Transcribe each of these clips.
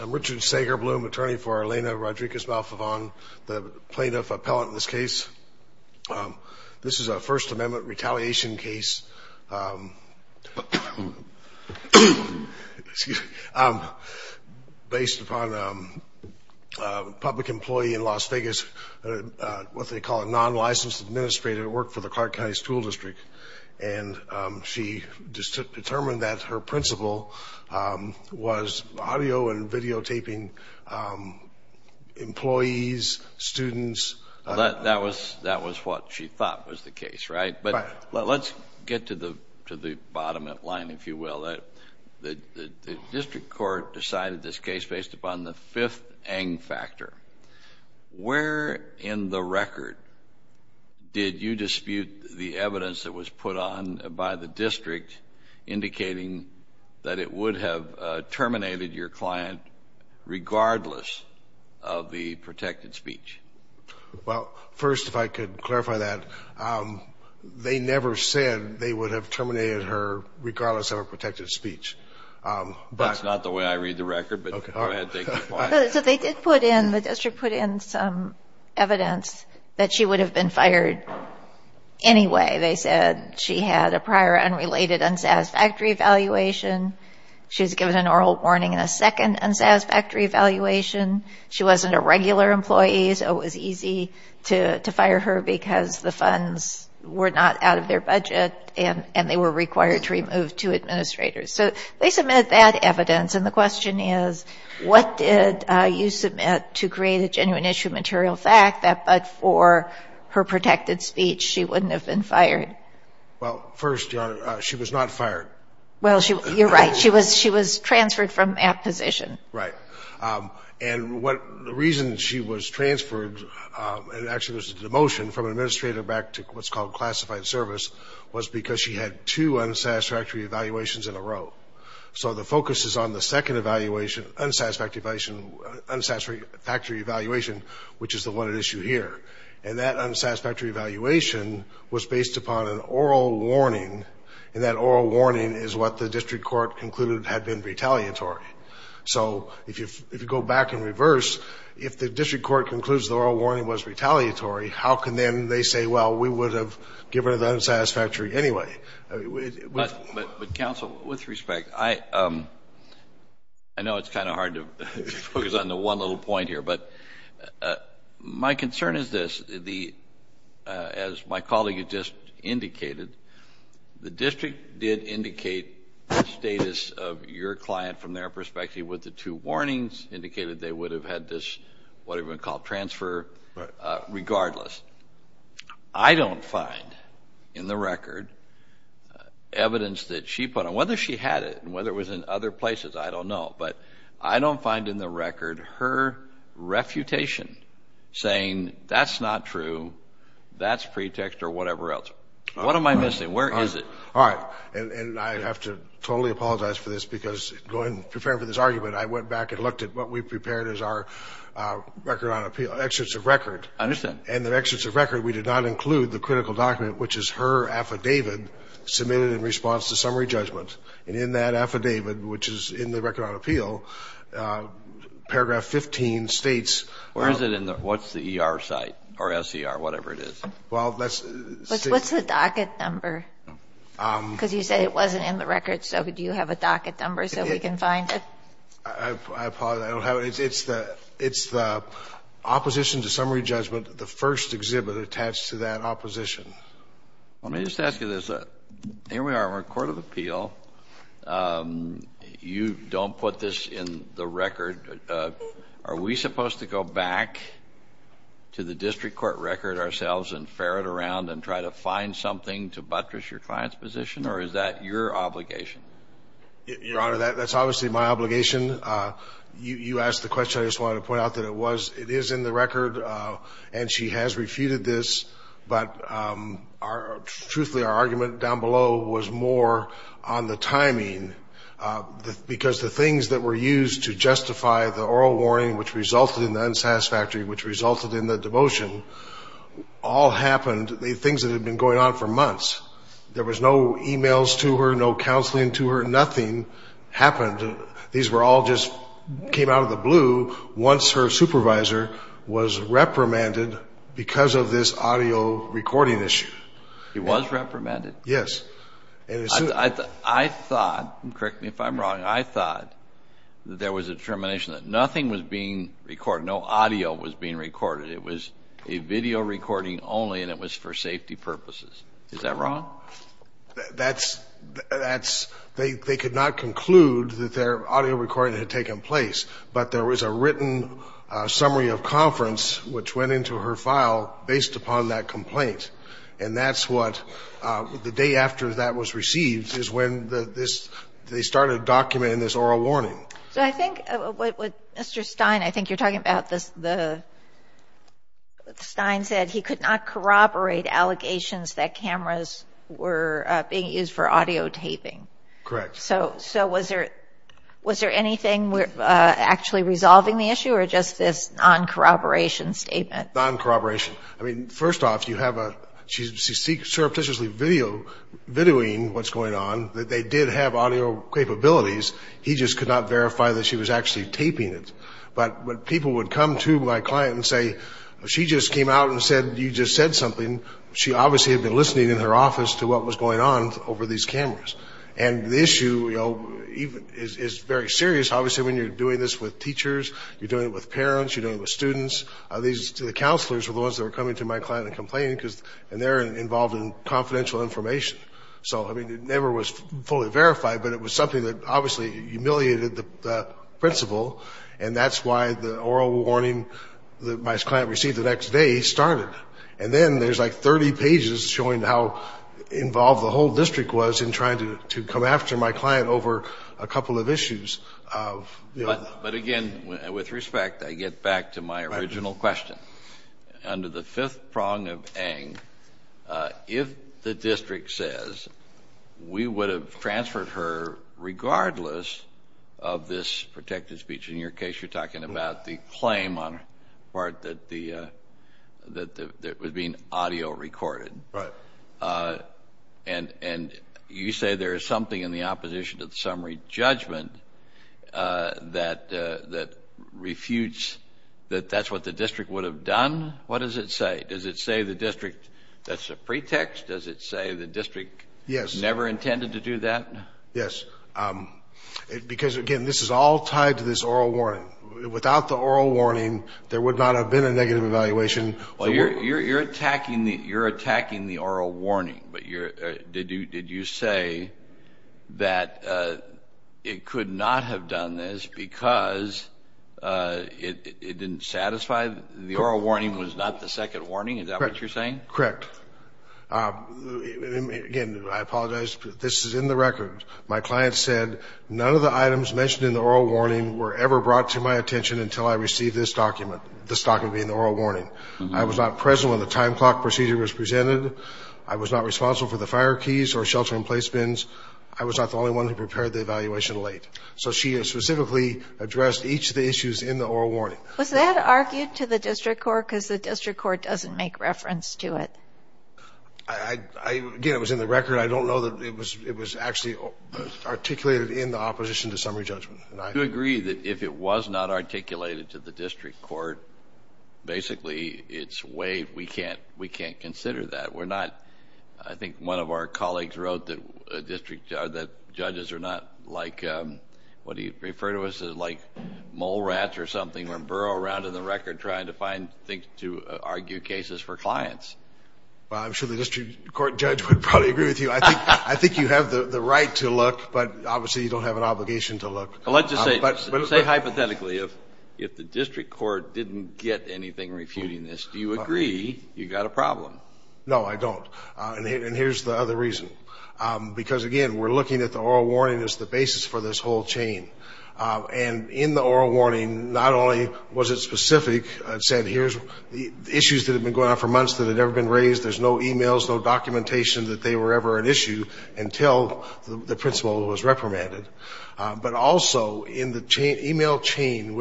I'm Richard Sagerbloom, attorney for Elena Rodriguez-Malfavon, the plaintiff appellate in this case. This is a First Amendment retaliation case based upon a public employee in Las Vegas, what they call a non-licensed administrator who worked for the Clark County School District. And she determined that her principal was audio and videotaping employees, students. That was what she thought was the case, right? Right. But let's get to the bottom of the line, if you will. The district court decided this case based upon the fifth ANG factor. Where in the record did you dispute the evidence that was put on by the district indicating that it would have terminated your client regardless of the protected speech? Well, first, if I could clarify that. They never said they would have terminated her regardless of her protected speech. That's not the way I read the record, but go ahead. So they did put in, the district put in some evidence that she would have been fired anyway. They said she had a prior unrelated unsatisfactory evaluation. She was given an oral warning and a second unsatisfactory evaluation. She wasn't a regular employee, so it was easy to fire her because the funds were not out of their budget and they were required to remove two administrators. So they submit that evidence. And the question is, what did you submit to create a genuine issue of material fact that but for her protected speech, she wouldn't have been fired? Well, first, Your Honor, she was not fired. Well, you're right. She was transferred from that position. Right. And the reason she was transferred, and actually there's a demotion from an administrator back to what's called classified service, was because she had two unsatisfactory evaluations in a row. So the focus is on the second evaluation, unsatisfactory evaluation, which is the one at issue here. And that unsatisfactory evaluation was based upon an oral warning, and that oral warning is what the district court concluded had been retaliatory. So if you go back in reverse, if the district court concludes the oral warning was retaliatory, how can then they say, well, we would have given her the unsatisfactory anyway? But, Counsel, with respect, I know it's kind of hard to focus on the one little point here, but my concern is this, as my colleague has just indicated, the district did indicate the status of your client from their perspective with the two warnings, indicated they would have had this, whatever you want to call it, transfer regardless. I don't find in the record evidence that she put on, whether she had it and whether it was in other places, I don't know. But I don't find in the record her refutation saying that's not true, that's pretext or whatever else. What am I missing? Where is it? All right. And I have to totally apologize for this, because going, preparing for this argument, I went back and looked at what we prepared as our record on appeal, excerpts of record. I understand. And the excerpts of record, we did not include the critical document, which is her affidavit submitted in response to summary judgment. And in that affidavit, which is in the record on appeal, paragraph 15 states. Where is it? What's the ER site or SER, whatever it is? Well, that's. What's the docket number? Because you said it wasn't in the record, so do you have a docket number so we can find it? I apologize. I don't have it. It's the opposition to summary judgment, the first exhibit attached to that opposition. Let me just ask you this. Here we are in our court of appeal. You don't put this in the record. Are we supposed to go back to the district court record ourselves and ferret around and try to find something to buttress your client's position, or is that your obligation? Your Honor, that's obviously my obligation. You asked the question. I just wanted to point out that it was. It is in the record, and she has refuted this. But truthfully, our argument down below was more on the timing, because the things that were used to justify the oral warning, which resulted in the unsatisfactory, which resulted in the devotion, all happened, things that had been going on for months. There was no e-mails to her, no counseling to her. Nothing happened. These all just came out of the blue once her supervisor was reprimanded because of this audio recording issue. He was reprimanded? Yes. I thought, correct me if I'm wrong, I thought that there was a determination that nothing was being recorded, no audio was being recorded. It was a video recording only, and it was for safety purposes. Is that wrong? That's they could not conclude that their audio recording had taken place, but there was a written summary of conference, which went into her file based upon that complaint. And that's what, the day after that was received, is when they started documenting this oral warning. So I think what Mr. Stein, I think you're talking about, what Stein said, he could not corroborate allegations that cameras were being used for audio taping. Correct. So was there anything actually resolving the issue, or just this non-corroboration statement? Non-corroboration. I mean, first off, she's surreptitiously videoing what's going on, that they did have audio capabilities, he just could not verify that she was actually taping it. But when people would come to my client and say, she just came out and said, you just said something, she obviously had been listening in her office to what was going on over these cameras. And the issue is very serious. Obviously, when you're doing this with teachers, you're doing it with parents, you're doing it with students. The counselors were the ones that were coming to my client and complaining, and they're involved in confidential information. So, I mean, it never was fully verified, but it was something that obviously humiliated the principal, and that's why the oral warning that my client received the next day started. And then there's like 30 pages showing how involved the whole district was in trying to come after my client over a couple of issues. But again, with respect, I get back to my original question. Under the fifth prong of Eng, if the district says we would have transferred her regardless of this protected speech, in your case you're talking about the claim on the part that was being audio recorded. Right. And you say there is something in the opposition to the summary judgment that refutes that that's what the district would have done? What does it say? Does it say the district, that's a pretext? Does it say the district never intended to do that? Yes. Because, again, this is all tied to this oral warning. Without the oral warning, there would not have been a negative evaluation. Well, you're attacking the oral warning, but did you say that it could not have done this because it didn't satisfy? The oral warning was not the second warning? Correct. Is that what you're saying? Correct. Again, I apologize. This is in the record. My client said, none of the items mentioned in the oral warning were ever brought to my attention until I received this document, this document being the oral warning. I was not present when the time clock procedure was presented. I was not responsible for the fire keys or shelter-in-place bins. I was not the only one who prepared the evaluation late. So she has specifically addressed each of the issues in the oral warning. Was that argued to the district court because the district court doesn't make reference to it? Again, it was in the record. I don't know that it was actually articulated in the opposition to summary judgment. I do agree that if it was not articulated to the district court, basically it's way we can't consider that. I think one of our colleagues wrote that judges are not like, what do you refer to us as, like mole rats or something, or burrow around in the record trying to find things to argue cases for clients. Well, I'm sure the district court judge would probably agree with you. I think you have the right to look, but obviously you don't have an obligation to look. Well, let's just say hypothetically if the district court didn't get anything refuting this, do you agree you've got a problem? No, I don't. And here's the other reason, because, again, we're looking at the oral warning as the basis for this whole chain. And in the oral warning, not only was it specific, the issues that had been going on for months that had never been raised, there's no e-mails, no documentation that they were ever an issue until the principal was reprimanded. But also in the e-mail chain in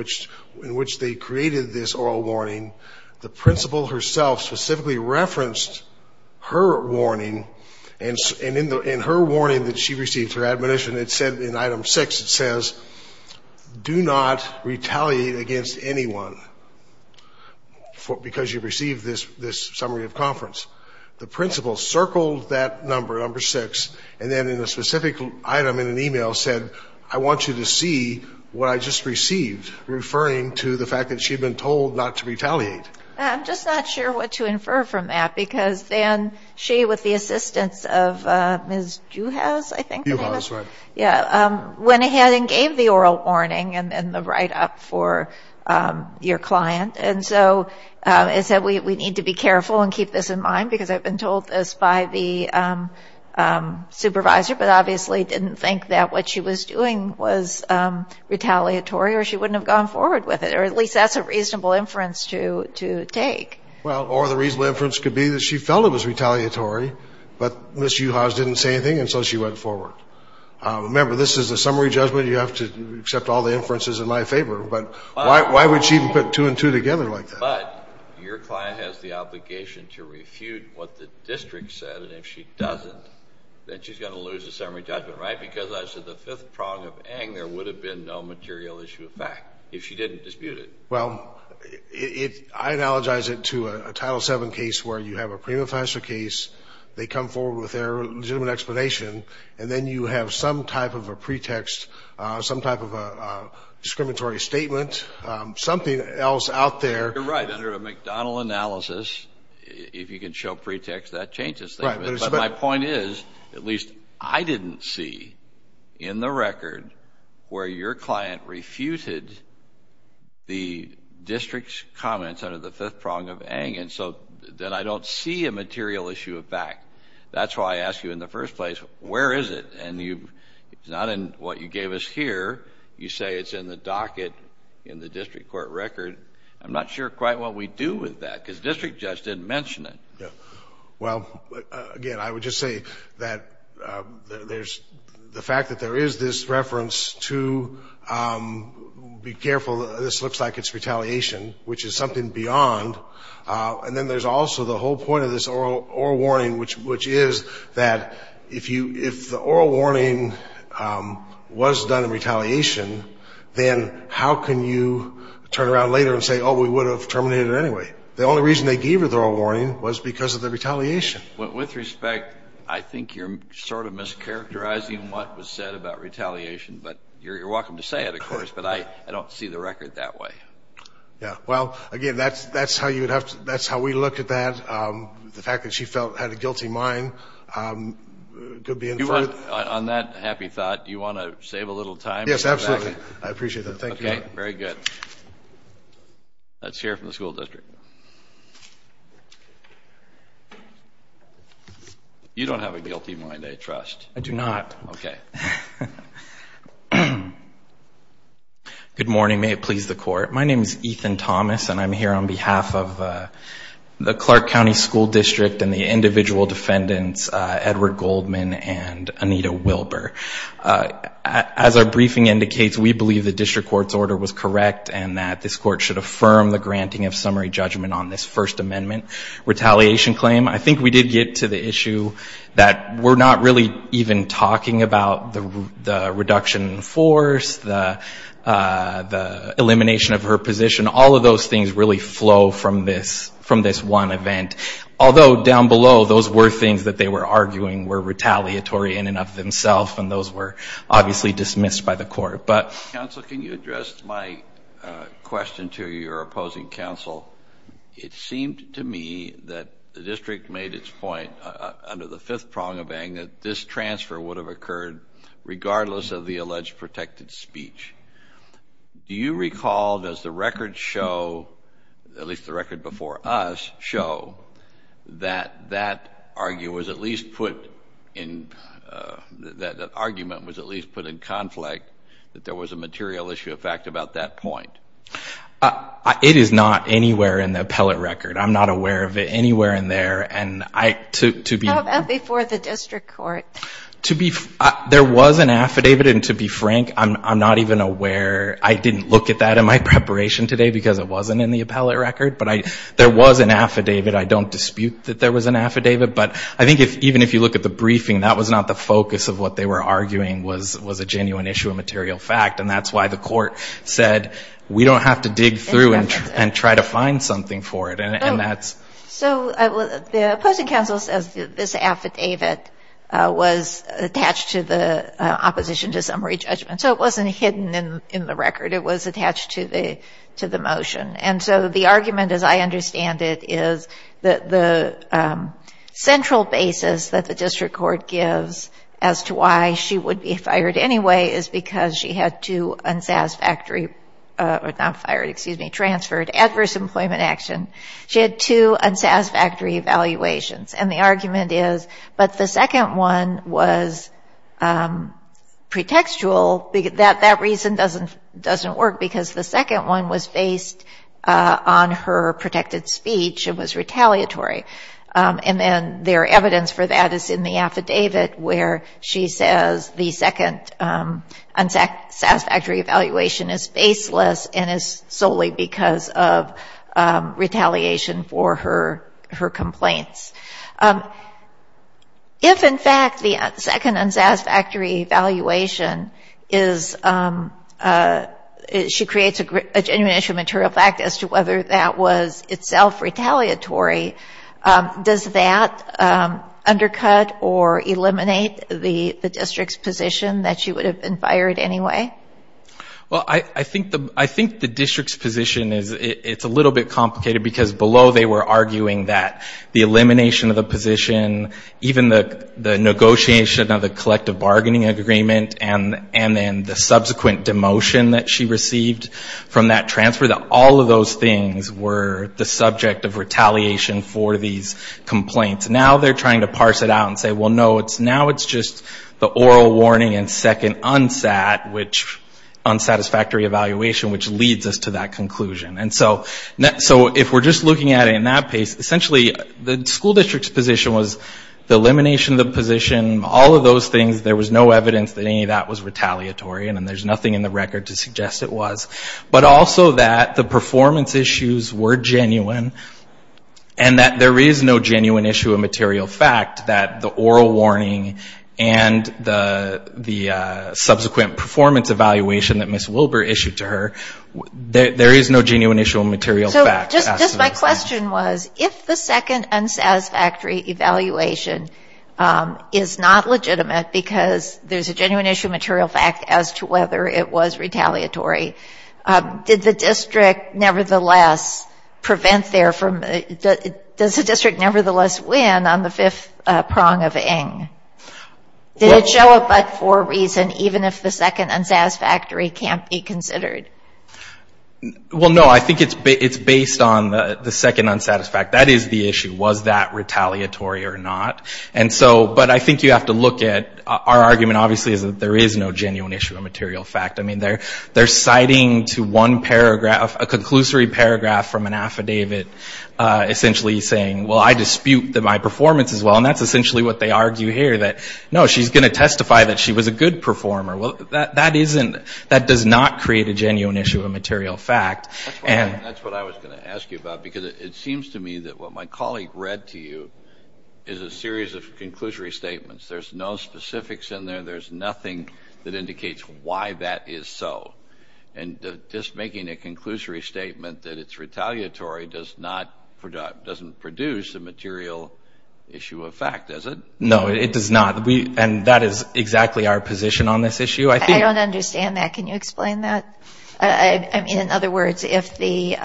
which they created this oral warning, the principal herself specifically referenced her warning, and in her warning that she received, her admonition, it said in item six, it says, do not retaliate against anyone because you've received this summary of conference. The principal circled that number, number six, and then in a specific item in an e-mail said, I want you to see what I just received, referring to the fact that she had been told not to retaliate. I'm just not sure what to infer from that, because then she, with the assistance of Ms. Juhasz, I think. Juhasz, right. Yeah, went ahead and gave the oral warning and the write-up for your client. And so it said we need to be careful and keep this in mind, because I've been told this by the supervisor, but obviously didn't think that what she was doing was retaliatory or she wouldn't have gone forward with it, or at least that's a reasonable inference to take. Well, or the reasonable inference could be that she felt it was retaliatory, but Ms. Juhasz didn't say anything and so she went forward. Remember, this is a summary judgment. You have to accept all the inferences in my favor. But why would she even put two and two together like that? But your client has the obligation to refute what the district said, and if she doesn't, then she's going to lose the summary judgment, right? Because as to the fifth prong of Ng, there would have been no material issue of fact if she didn't dispute it. Well, I analogize it to a Title VII case where you have a prima facie case, they come forward with their legitimate explanation, and then you have some type of a pretext, some type of a discriminatory statement, something else out there. You're right. Under a McDonnell analysis, if you can show pretext, that changes things. But my point is, at least I didn't see in the record where your client refuted the district's comments under the fifth prong of Ng, and so then I don't see a material issue of fact. That's why I asked you in the first place, where is it? And it's not in what you gave us here. You say it's in the docket in the district court record. I'm not sure quite what we do with that because the district judge didn't mention it. Well, again, I would just say that there's the fact that there is this reference to be careful, this looks like it's retaliation, which is something beyond. And then there's also the whole point of this oral warning, which is that if the oral warning was done in retaliation, then how can you turn around later and say, oh, we would have terminated it anyway? The only reason they gave her the oral warning was because of the retaliation. With respect, I think you're sort of mischaracterizing what was said about retaliation, but you're welcome to say it, of course, but I don't see the record that way. Yeah, well, again, that's how we looked at that. The fact that she had a guilty mind could be inferred. On that happy thought, do you want to save a little time? Yes, absolutely. I appreciate that. Thank you. Okay, very good. Let's hear from the school district. You don't have a guilty mind, I trust. I do not. Okay. Good morning. May it please the Court. My name is Ethan Thomas, and I'm here on behalf of the Clark County School District and the individual defendants, Edward Goldman and Anita Wilbur. As our briefing indicates, we believe the district court's order was correct and that this court should affirm the granting of summary judgment on this First Amendment retaliation claim. I think we did get to the issue that we're not really even talking about the reduction in force, the elimination of her position. All of those things really flow from this one event, although down below those were things that they were arguing were retaliatory in and of themselves, and those were obviously dismissed by the court. Counsel, can you address my question to your opposing counsel? It seemed to me that the district made its point under the fifth prong of ANG that this transfer would have occurred regardless of the alleged protected speech. Do you recall, does the record show, at least the record before us, show that that argument was at least put in conflict, that there was a material issue of fact about that point? It is not anywhere in the appellate record. I'm not aware of it anywhere in there. How about before the district court? There was an affidavit, and to be frank, I'm not even aware. I didn't look at that in my preparation today because it wasn't in the appellate record, but there was an affidavit. I don't dispute that there was an affidavit. But I think even if you look at the briefing, that was not the focus of what they were arguing was a genuine issue of material fact, and that's why the court said we don't have to dig through and try to find something for it. So the opposing counsel says this affidavit was attached to the opposition to summary judgment. So it wasn't hidden in the record. It was attached to the motion. And so the argument, as I understand it, is that the central basis that the district court gives as to why she would be fired anyway is because she had two unsatisfactory, or not fired, excuse me, transferred, adverse employment action. She had two unsatisfactory evaluations. And the argument is, but the second one was pretextual. That reason doesn't work because the second one was based on her protected speech and was retaliatory. And then their evidence for that is in the affidavit, where she says the second unsatisfactory evaluation is faceless and is solely because of retaliation for her complaints. If, in fact, the second unsatisfactory evaluation is, she creates a genuine issue of material fact as to whether that was itself retaliatory, does that undercut or eliminate the district's position that she would have been fired anyway? Well, I think the district's position is, it's a little bit complicated because below they were arguing that the elimination of the position, even the negotiation of the collective bargaining agreement and then the subsequent demotion that she received from that transfer, that all of those things were the subject of retaliation for these complaints. Now they're trying to parse it out and say, well, no, now it's just the oral warning and second unsat, unsatisfactory evaluation, which leads us to that conclusion. And so if we're just looking at it in that pace, essentially the school district's position was the elimination of the position, all of those things, there was no evidence that any of that was retaliatory, and there's nothing in the record to suggest it was, but also that the performance issues were genuine and that there is no genuine issue of material fact that the oral warning and the subsequent performance evaluation that Ms. Wilbur issued to her, there is no genuine issue of material fact. Just my question was, if the second unsatisfactory evaluation is not legitimate because there's a genuine issue of material fact as to whether it was retaliatory, did the district nevertheless prevent their, does the district nevertheless win on the fifth prong of Ng? Did it show a but for a reason even if the second unsatisfactory can't be considered? Well, no, I think it's based on the second unsatisfactory. That is the issue. Was that retaliatory or not? And so, but I think you have to look at, our argument obviously is that there is no genuine issue of material fact. I mean, they're citing to one paragraph, a conclusory paragraph from an affidavit essentially saying, well, I dispute that my performance is well, and that's essentially what they argue here, that no, she's going to testify that she was a good performer. Well, that isn't, that does not create a genuine issue of material fact. That's what I was going to ask you about because it seems to me that what my colleague read to you is a series of conclusory statements. There's no specifics in there. There's nothing that indicates why that is so. And just making a conclusory statement that it's retaliatory doesn't produce a material issue of fact, does it? No, it does not. And that is exactly our position on this issue, I think. I don't understand that. Can you explain that? I mean, in other words, if the,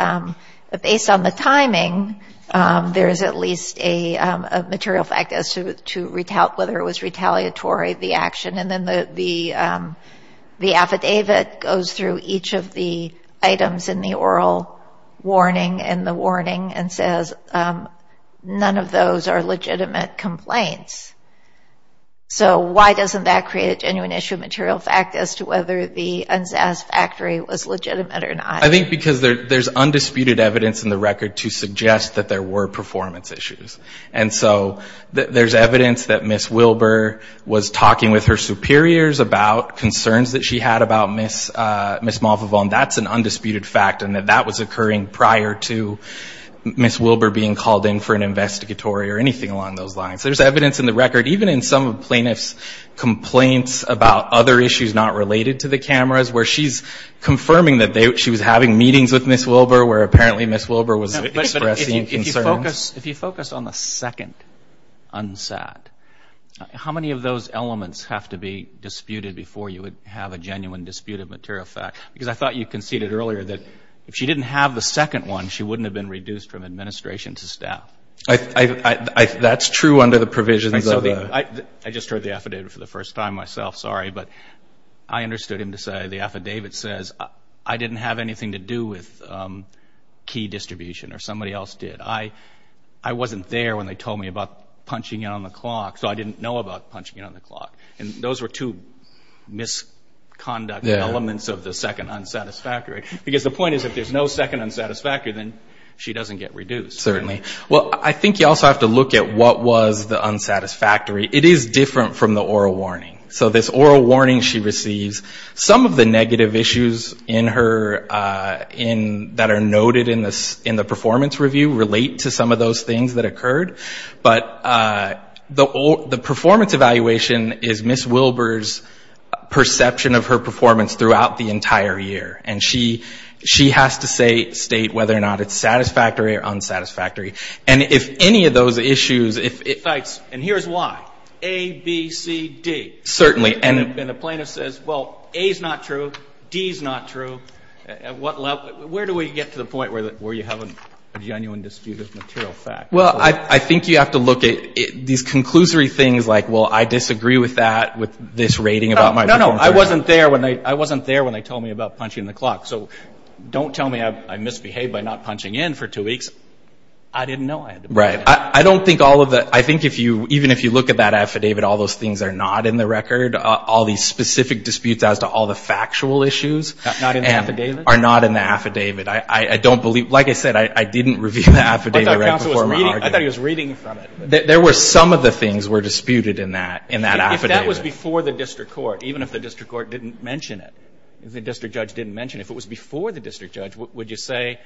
based on the timing, there is at least a material fact as to whether it was retaliatory, the action, and then the affidavit goes through each of the items in the oral warning and says none of those are legitimate complaints, so why doesn't that create a genuine issue of material fact as to whether the Unzass factory was legitimate or not? I think because there's undisputed evidence in the record to suggest that there were performance issues. And so there's evidence that Ms. Wilbur was talking with her superiors about concerns that she had about Ms. Malvevon. That's an undisputed fact and that that was occurring prior to Ms. Wilbur being called in for an investigatory or anything along those lines. There's evidence in the record, even in some of the plaintiff's complaints about other issues not related to the cameras, where she's confirming that she was having meetings with Ms. Wilbur where apparently Ms. Wilbur was expressing concerns. But if you focus on the second, Unzass, how many of those elements have to be disputed before you would have a genuine dispute of material fact? Because I thought you conceded earlier that if she didn't have the second one, she wouldn't have been reduced from administration to staff. That's true under the provisions of the... I just heard the affidavit for the first time myself, sorry. But I understood him to say, the affidavit says, I didn't have anything to do with key distribution or somebody else did. I wasn't there when they told me about punching in on the clock, so I didn't know about punching in on the clock. And those were two misconduct elements of the second unsatisfactory. Because the point is, if there's no second unsatisfactory, then she doesn't get reduced. Certainly. Well, I think you also have to look at what was the unsatisfactory. It is different from the oral warning. So this oral warning she receives, some of the negative issues that are noted in the performance review relate to some of those things that occurred. But the performance evaluation is Ms. Wilbur's perception of her performance throughout the entire year. And she has to state whether or not it's satisfactory or unsatisfactory. And if any of those issues... And here's why, A, B, C, D. Certainly. And a plaintiff says, well, A is not true, D is not true. Where do we get to the point where you have a genuine dispute of material facts? Well, I think you have to look at these conclusory things like, well, I disagree with that, with this rating about my performance. No, no, no. I wasn't there when they told me about punching the clock. So don't tell me I misbehaved by not punching in for two weeks. I didn't know I had to punch in. Right. I don't think all of the... I think even if you look at that affidavit, all those things are not in the record. All these specific disputes as to all the factual issues... Not in the affidavit? ...are not in the affidavit. I don't believe... Like I said, I didn't review the affidavit right before... I thought he was reading from it. There were some of the things were disputed in that affidavit. If that was before the district court, even if the district court didn't mention it, if the district judge didn't mention it, if it was before the district judge, would you say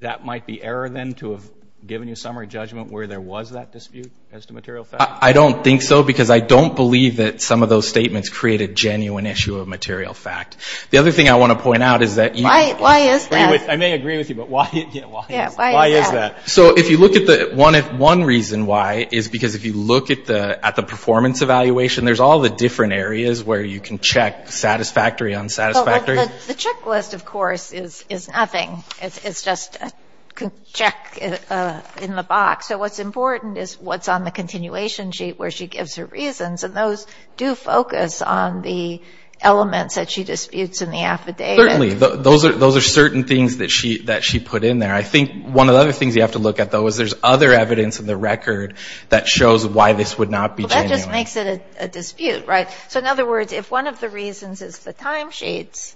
that might be error then to have given you summary judgment where there was that dispute as to material facts? I don't think so because I don't believe that some of those statements create a genuine issue of material fact. The other thing I want to point out is that... Why is that? I may agree with you, but why is that? Why is that? So if you look at the... One reason why is because if you look at the performance evaluation, there's all the different areas where you can check satisfactory, unsatisfactory. The checklist, of course, is nothing. It's just a check in the box. So what's important is what's on the continuation sheet where she gives her reasons, and those do focus on the elements that she disputes in the affidavit. Certainly. Those are certain things that she put in there. I think one of the other things you have to look at, though, is there's other evidence in the record that shows why this would not be genuine. Well, that just makes it a dispute, right? So in other words, if one of the reasons is the timesheets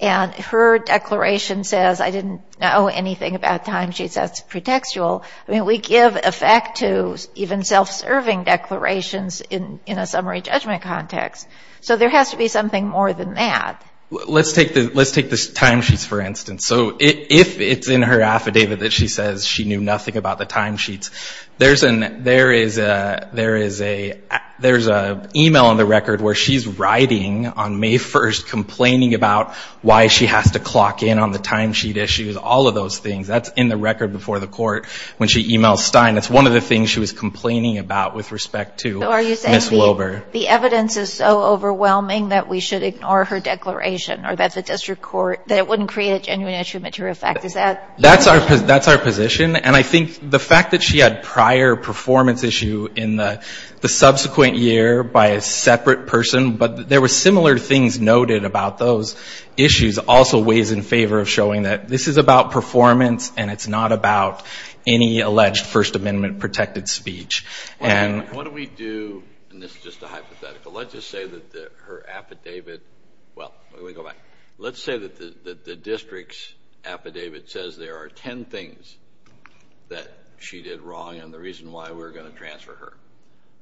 and her declaration says, I didn't know anything about timesheets, that's pretextual, we give effect to even self-serving declarations in a summary judgment context. So there has to be something more than that. Let's take the timesheets, for instance. So if it's in her affidavit that she says she knew nothing about the timesheets, there's an email in the record where she's writing on May 1st complaining about why she has to clock in on the timesheet issues, all of those things. That's in the record before the court when she emails Stein. That's one of the things she was complaining about with respect to Ms. Wilbur. So are you saying the evidence is so overwhelming that we should ignore her declaration or that the district court – that it wouldn't create a genuine issue of material fact? Is that – That's our position, and I think the fact that she had prior performance issue in the subsequent year by a separate person, but there were similar things noted about those issues also weighs in favor of showing that this is about performance and it's not about any alleged First Amendment-protected speech. What do we do – and this is just a hypothetical. Let's just say that her affidavit – well, let me go back. Let's say that the district's affidavit says there are ten things that she did wrong and the reason why we're going to transfer her.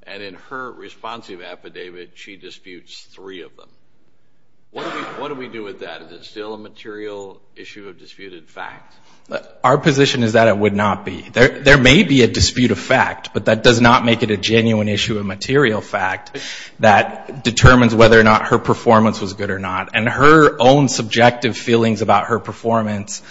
And in her responsive affidavit, she disputes three of them. What do we do with that? Is it still a material issue of disputed fact? Our position is that it would not be. There may be a dispute of fact, but that does not make it a genuine issue of material fact that determines whether or not her performance was good or not. And her own subjective feelings about her performance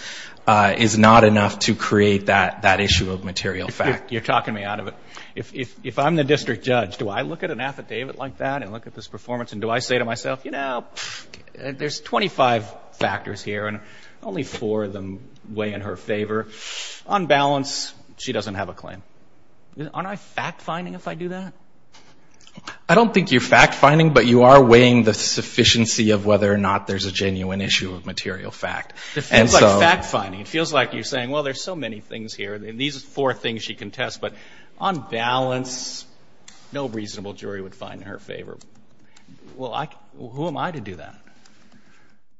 is not enough to create that issue of material fact. You're talking me out of it. If I'm the district judge, do I look at an affidavit like that and look at this performance and do I say to myself, you know, there's 25 factors here and only four of them weigh in her favor? On balance, she doesn't have a claim. Aren't I fact-finding if I do that? I don't think you're fact-finding, but you are weighing the sufficiency of whether or not there's a genuine issue of material fact. It feels like fact-finding. It feels like you're saying, well, there's so many things here, and these are four things she contests, but on balance, no reasonable jury would find her favorable. Well, who am I to do that?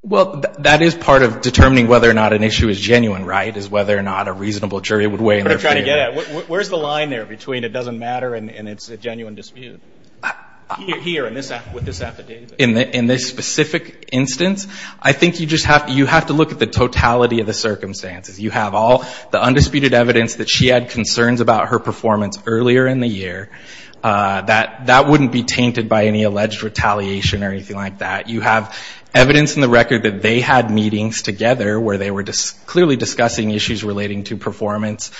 Well, that is part of determining whether or not an issue is genuine, right, is whether or not a reasonable jury would weigh in her favor. Where's the line there between it doesn't matter and it's a genuine dispute? Here with this affidavit. In this specific instance, I think you have to look at the totality of the circumstances. You have all the undisputed evidence that she had concerns about her performance earlier in the year. That wouldn't be tainted by any alleged retaliation or anything like that. You have evidence in the record that they had meetings together where they were clearly discussing issues relating to performance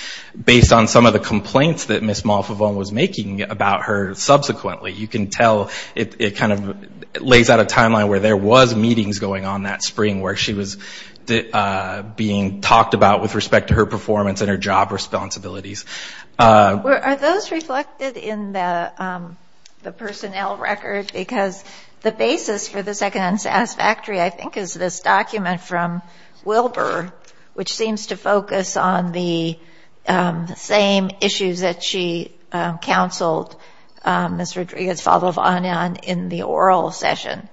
based on some of the complaints that Ms. Malfovone was making about her subsequently. You can tell it kind of lays out a timeline where there was meetings going on that spring where she was being talked about with respect to her performance and her job responsibilities. Are those reflected in the personnel record? Because the basis for the second unsatisfactory, I think, is this document from Wilbur, which seems to focus on the same issues that she counseled Ms. Rodriguez-Faldovanian in the oral session.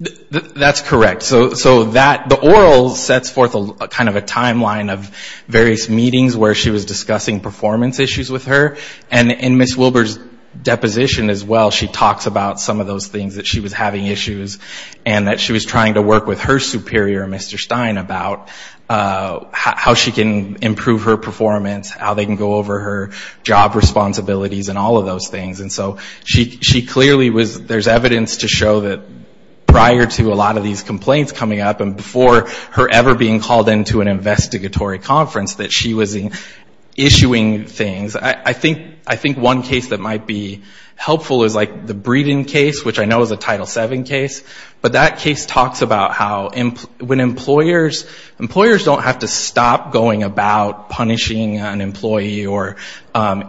That's correct. So the oral sets forth kind of a timeline of various meetings where she was discussing performance issues with her. And in Ms. Wilbur's deposition as well, she talks about some of those things that she was having issues and that she was trying to work with her superior, Mr. Stein, about how she can improve her performance, how they can go over her job responsibilities and all of those things. And so she clearly was, there's evidence to show that prior to a lot of these complaints coming up and before her ever being called into an investigatory conference that she was issuing things. I think one case that might be helpful is the Breeden case, which I know is a Title VII case. But that case talks about how when employers, employers don't have to stop going about punishing an employee or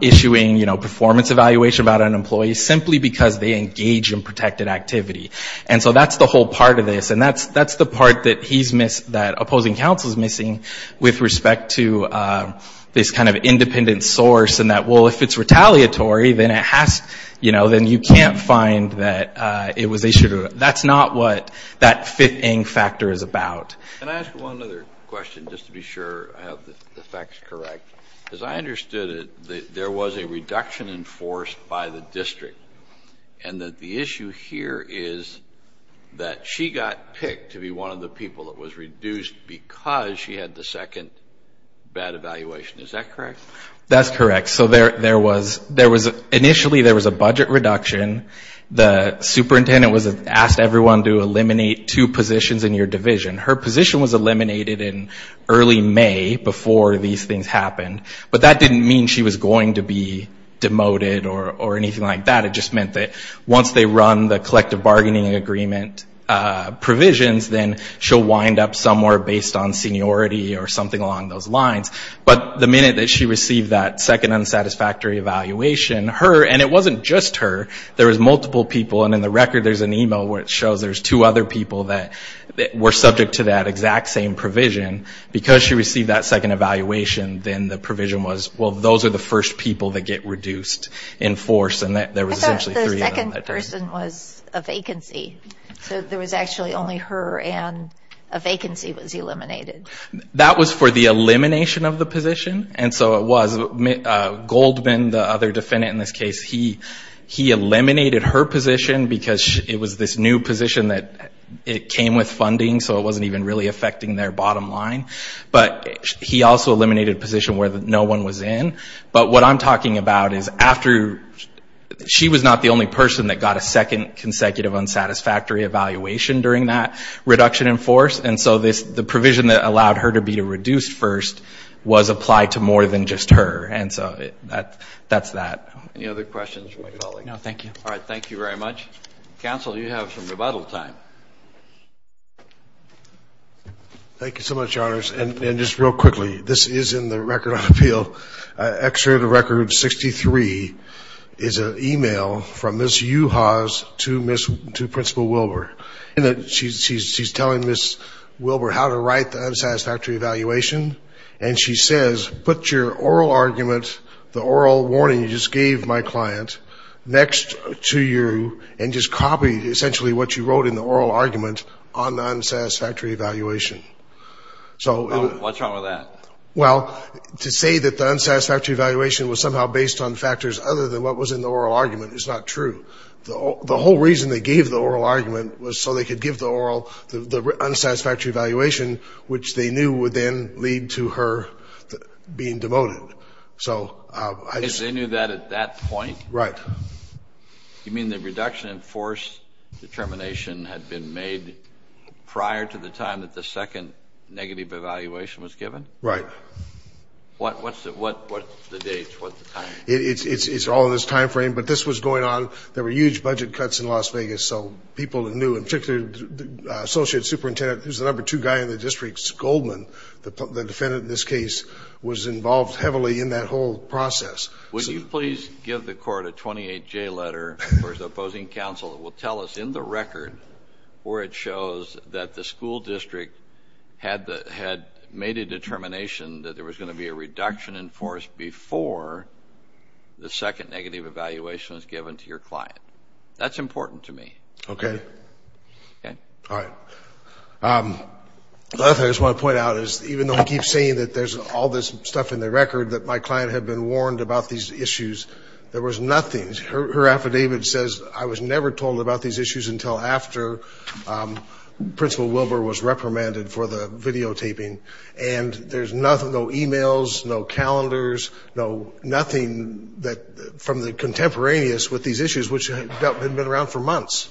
issuing performance evaluation about an employee simply because they engage in protected activity. And so that's the whole part of this. And that's the part that he's missed, that opposing counsel is missing with respect to this kind of independent source and that, well, if it's retaliatory, then it has, you know, then you can't find that it was issued. That's not what that fifth AIM factor is about. Can I ask one other question just to be sure I have the facts correct? Because I understood that there was a reduction in force by the district and that the issue here is that she got picked to be one of the people that was reduced because she had the second bad evaluation. Is that correct? That's correct. So there was, initially there was a budget reduction. The superintendent asked everyone to eliminate two positions in your division. Her position was eliminated in early May before these things happened. But that didn't mean she was going to be demoted or anything like that. It just meant that once they run the collective bargaining agreement provisions, then she'll wind up somewhere based on seniority or something along those lines. But the minute that she received that second unsatisfactory evaluation, her, and it wasn't just her, there was multiple people, and in the record there's an email where it shows there's two other people that were subject to that exact same provision. Because she received that second evaluation, then the provision was, well, those are the first people that get reduced in force. And there was essentially three of them. I thought the second person was a vacancy. So there was actually only her and a vacancy was eliminated. That was for the elimination of the position. And so it was. Goldman, the other defendant in this case, he eliminated her position because it was this new position that it came with funding, so it wasn't even really affecting their bottom line. But he also eliminated a position where no one was in. But what I'm talking about is after she was not the only person that got a second consecutive unsatisfactory evaluation during that reduction in force. And so the provision that allowed her to be reduced first was applied to more than just her. And so that's that. Any other questions for my colleague? No, thank you. All right. Thank you very much. Counsel, you have some rebuttal time. Thank you so much, Your Honors. And just real quickly, this is in the Record of Appeal. Extra to Record 63 is an e-mail from Ms. Juhasz to Principal Wilber. And she's telling Ms. Wilber how to write the unsatisfactory evaluation. And she says, put your oral argument, the oral warning you just gave my client, next to you and just copy essentially what you wrote in the oral argument on the unsatisfactory evaluation. What's wrong with that? Well, to say that the unsatisfactory evaluation was somehow based on factors other than what was in the oral argument is not true. The whole reason they gave the oral argument was so they could give the unsatisfactory evaluation, which they knew would then lead to her being demoted. They knew that at that point? Right. You mean the reduction in force determination had been made prior to the time that the second negative evaluation was given? Right. What's the dates? What's the time? It's all in this time frame. But this was going on. There were huge budget cuts in Las Vegas. So people knew, in particular the Associate Superintendent, who's the number two guy in the district, Goldman, the defendant in this case, was involved heavily in that whole process. Would you please give the court a 28-J letter, where the opposing counsel will tell us in the record where it shows that the school district had made a determination that there was going to be a reduction in force before the second negative evaluation was given to your client? That's important to me. Okay. Okay. All right. The other thing I just want to point out is, even though he keeps saying that there's all this stuff in the record, that my client had been warned about these issues, there was nothing. Her affidavit says, I was never told about these issues until after Principal Wilber was reprimanded for the videotaping. And there's no emails, no calendars, nothing from the contemporaneous with these issues, which had been around for months.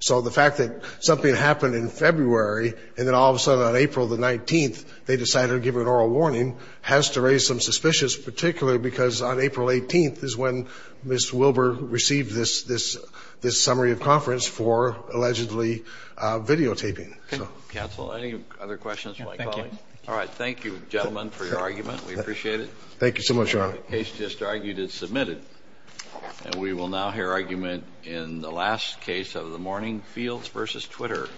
So the fact that something happened in February, and then all of a sudden on April the 19th they decided to give her an oral warning, has to raise some suspicions, particularly because on April 18th is when Ms. Wilber received this summary of conference for allegedly videotaping. Counsel, any other questions for my colleague? Thank you. All right. Thank you, gentlemen, for your argument. We appreciate it. Thank you so much, Your Honor. The case just argued is submitted. And we will now hear argument in the last case of the morning, Fields v. Twitter.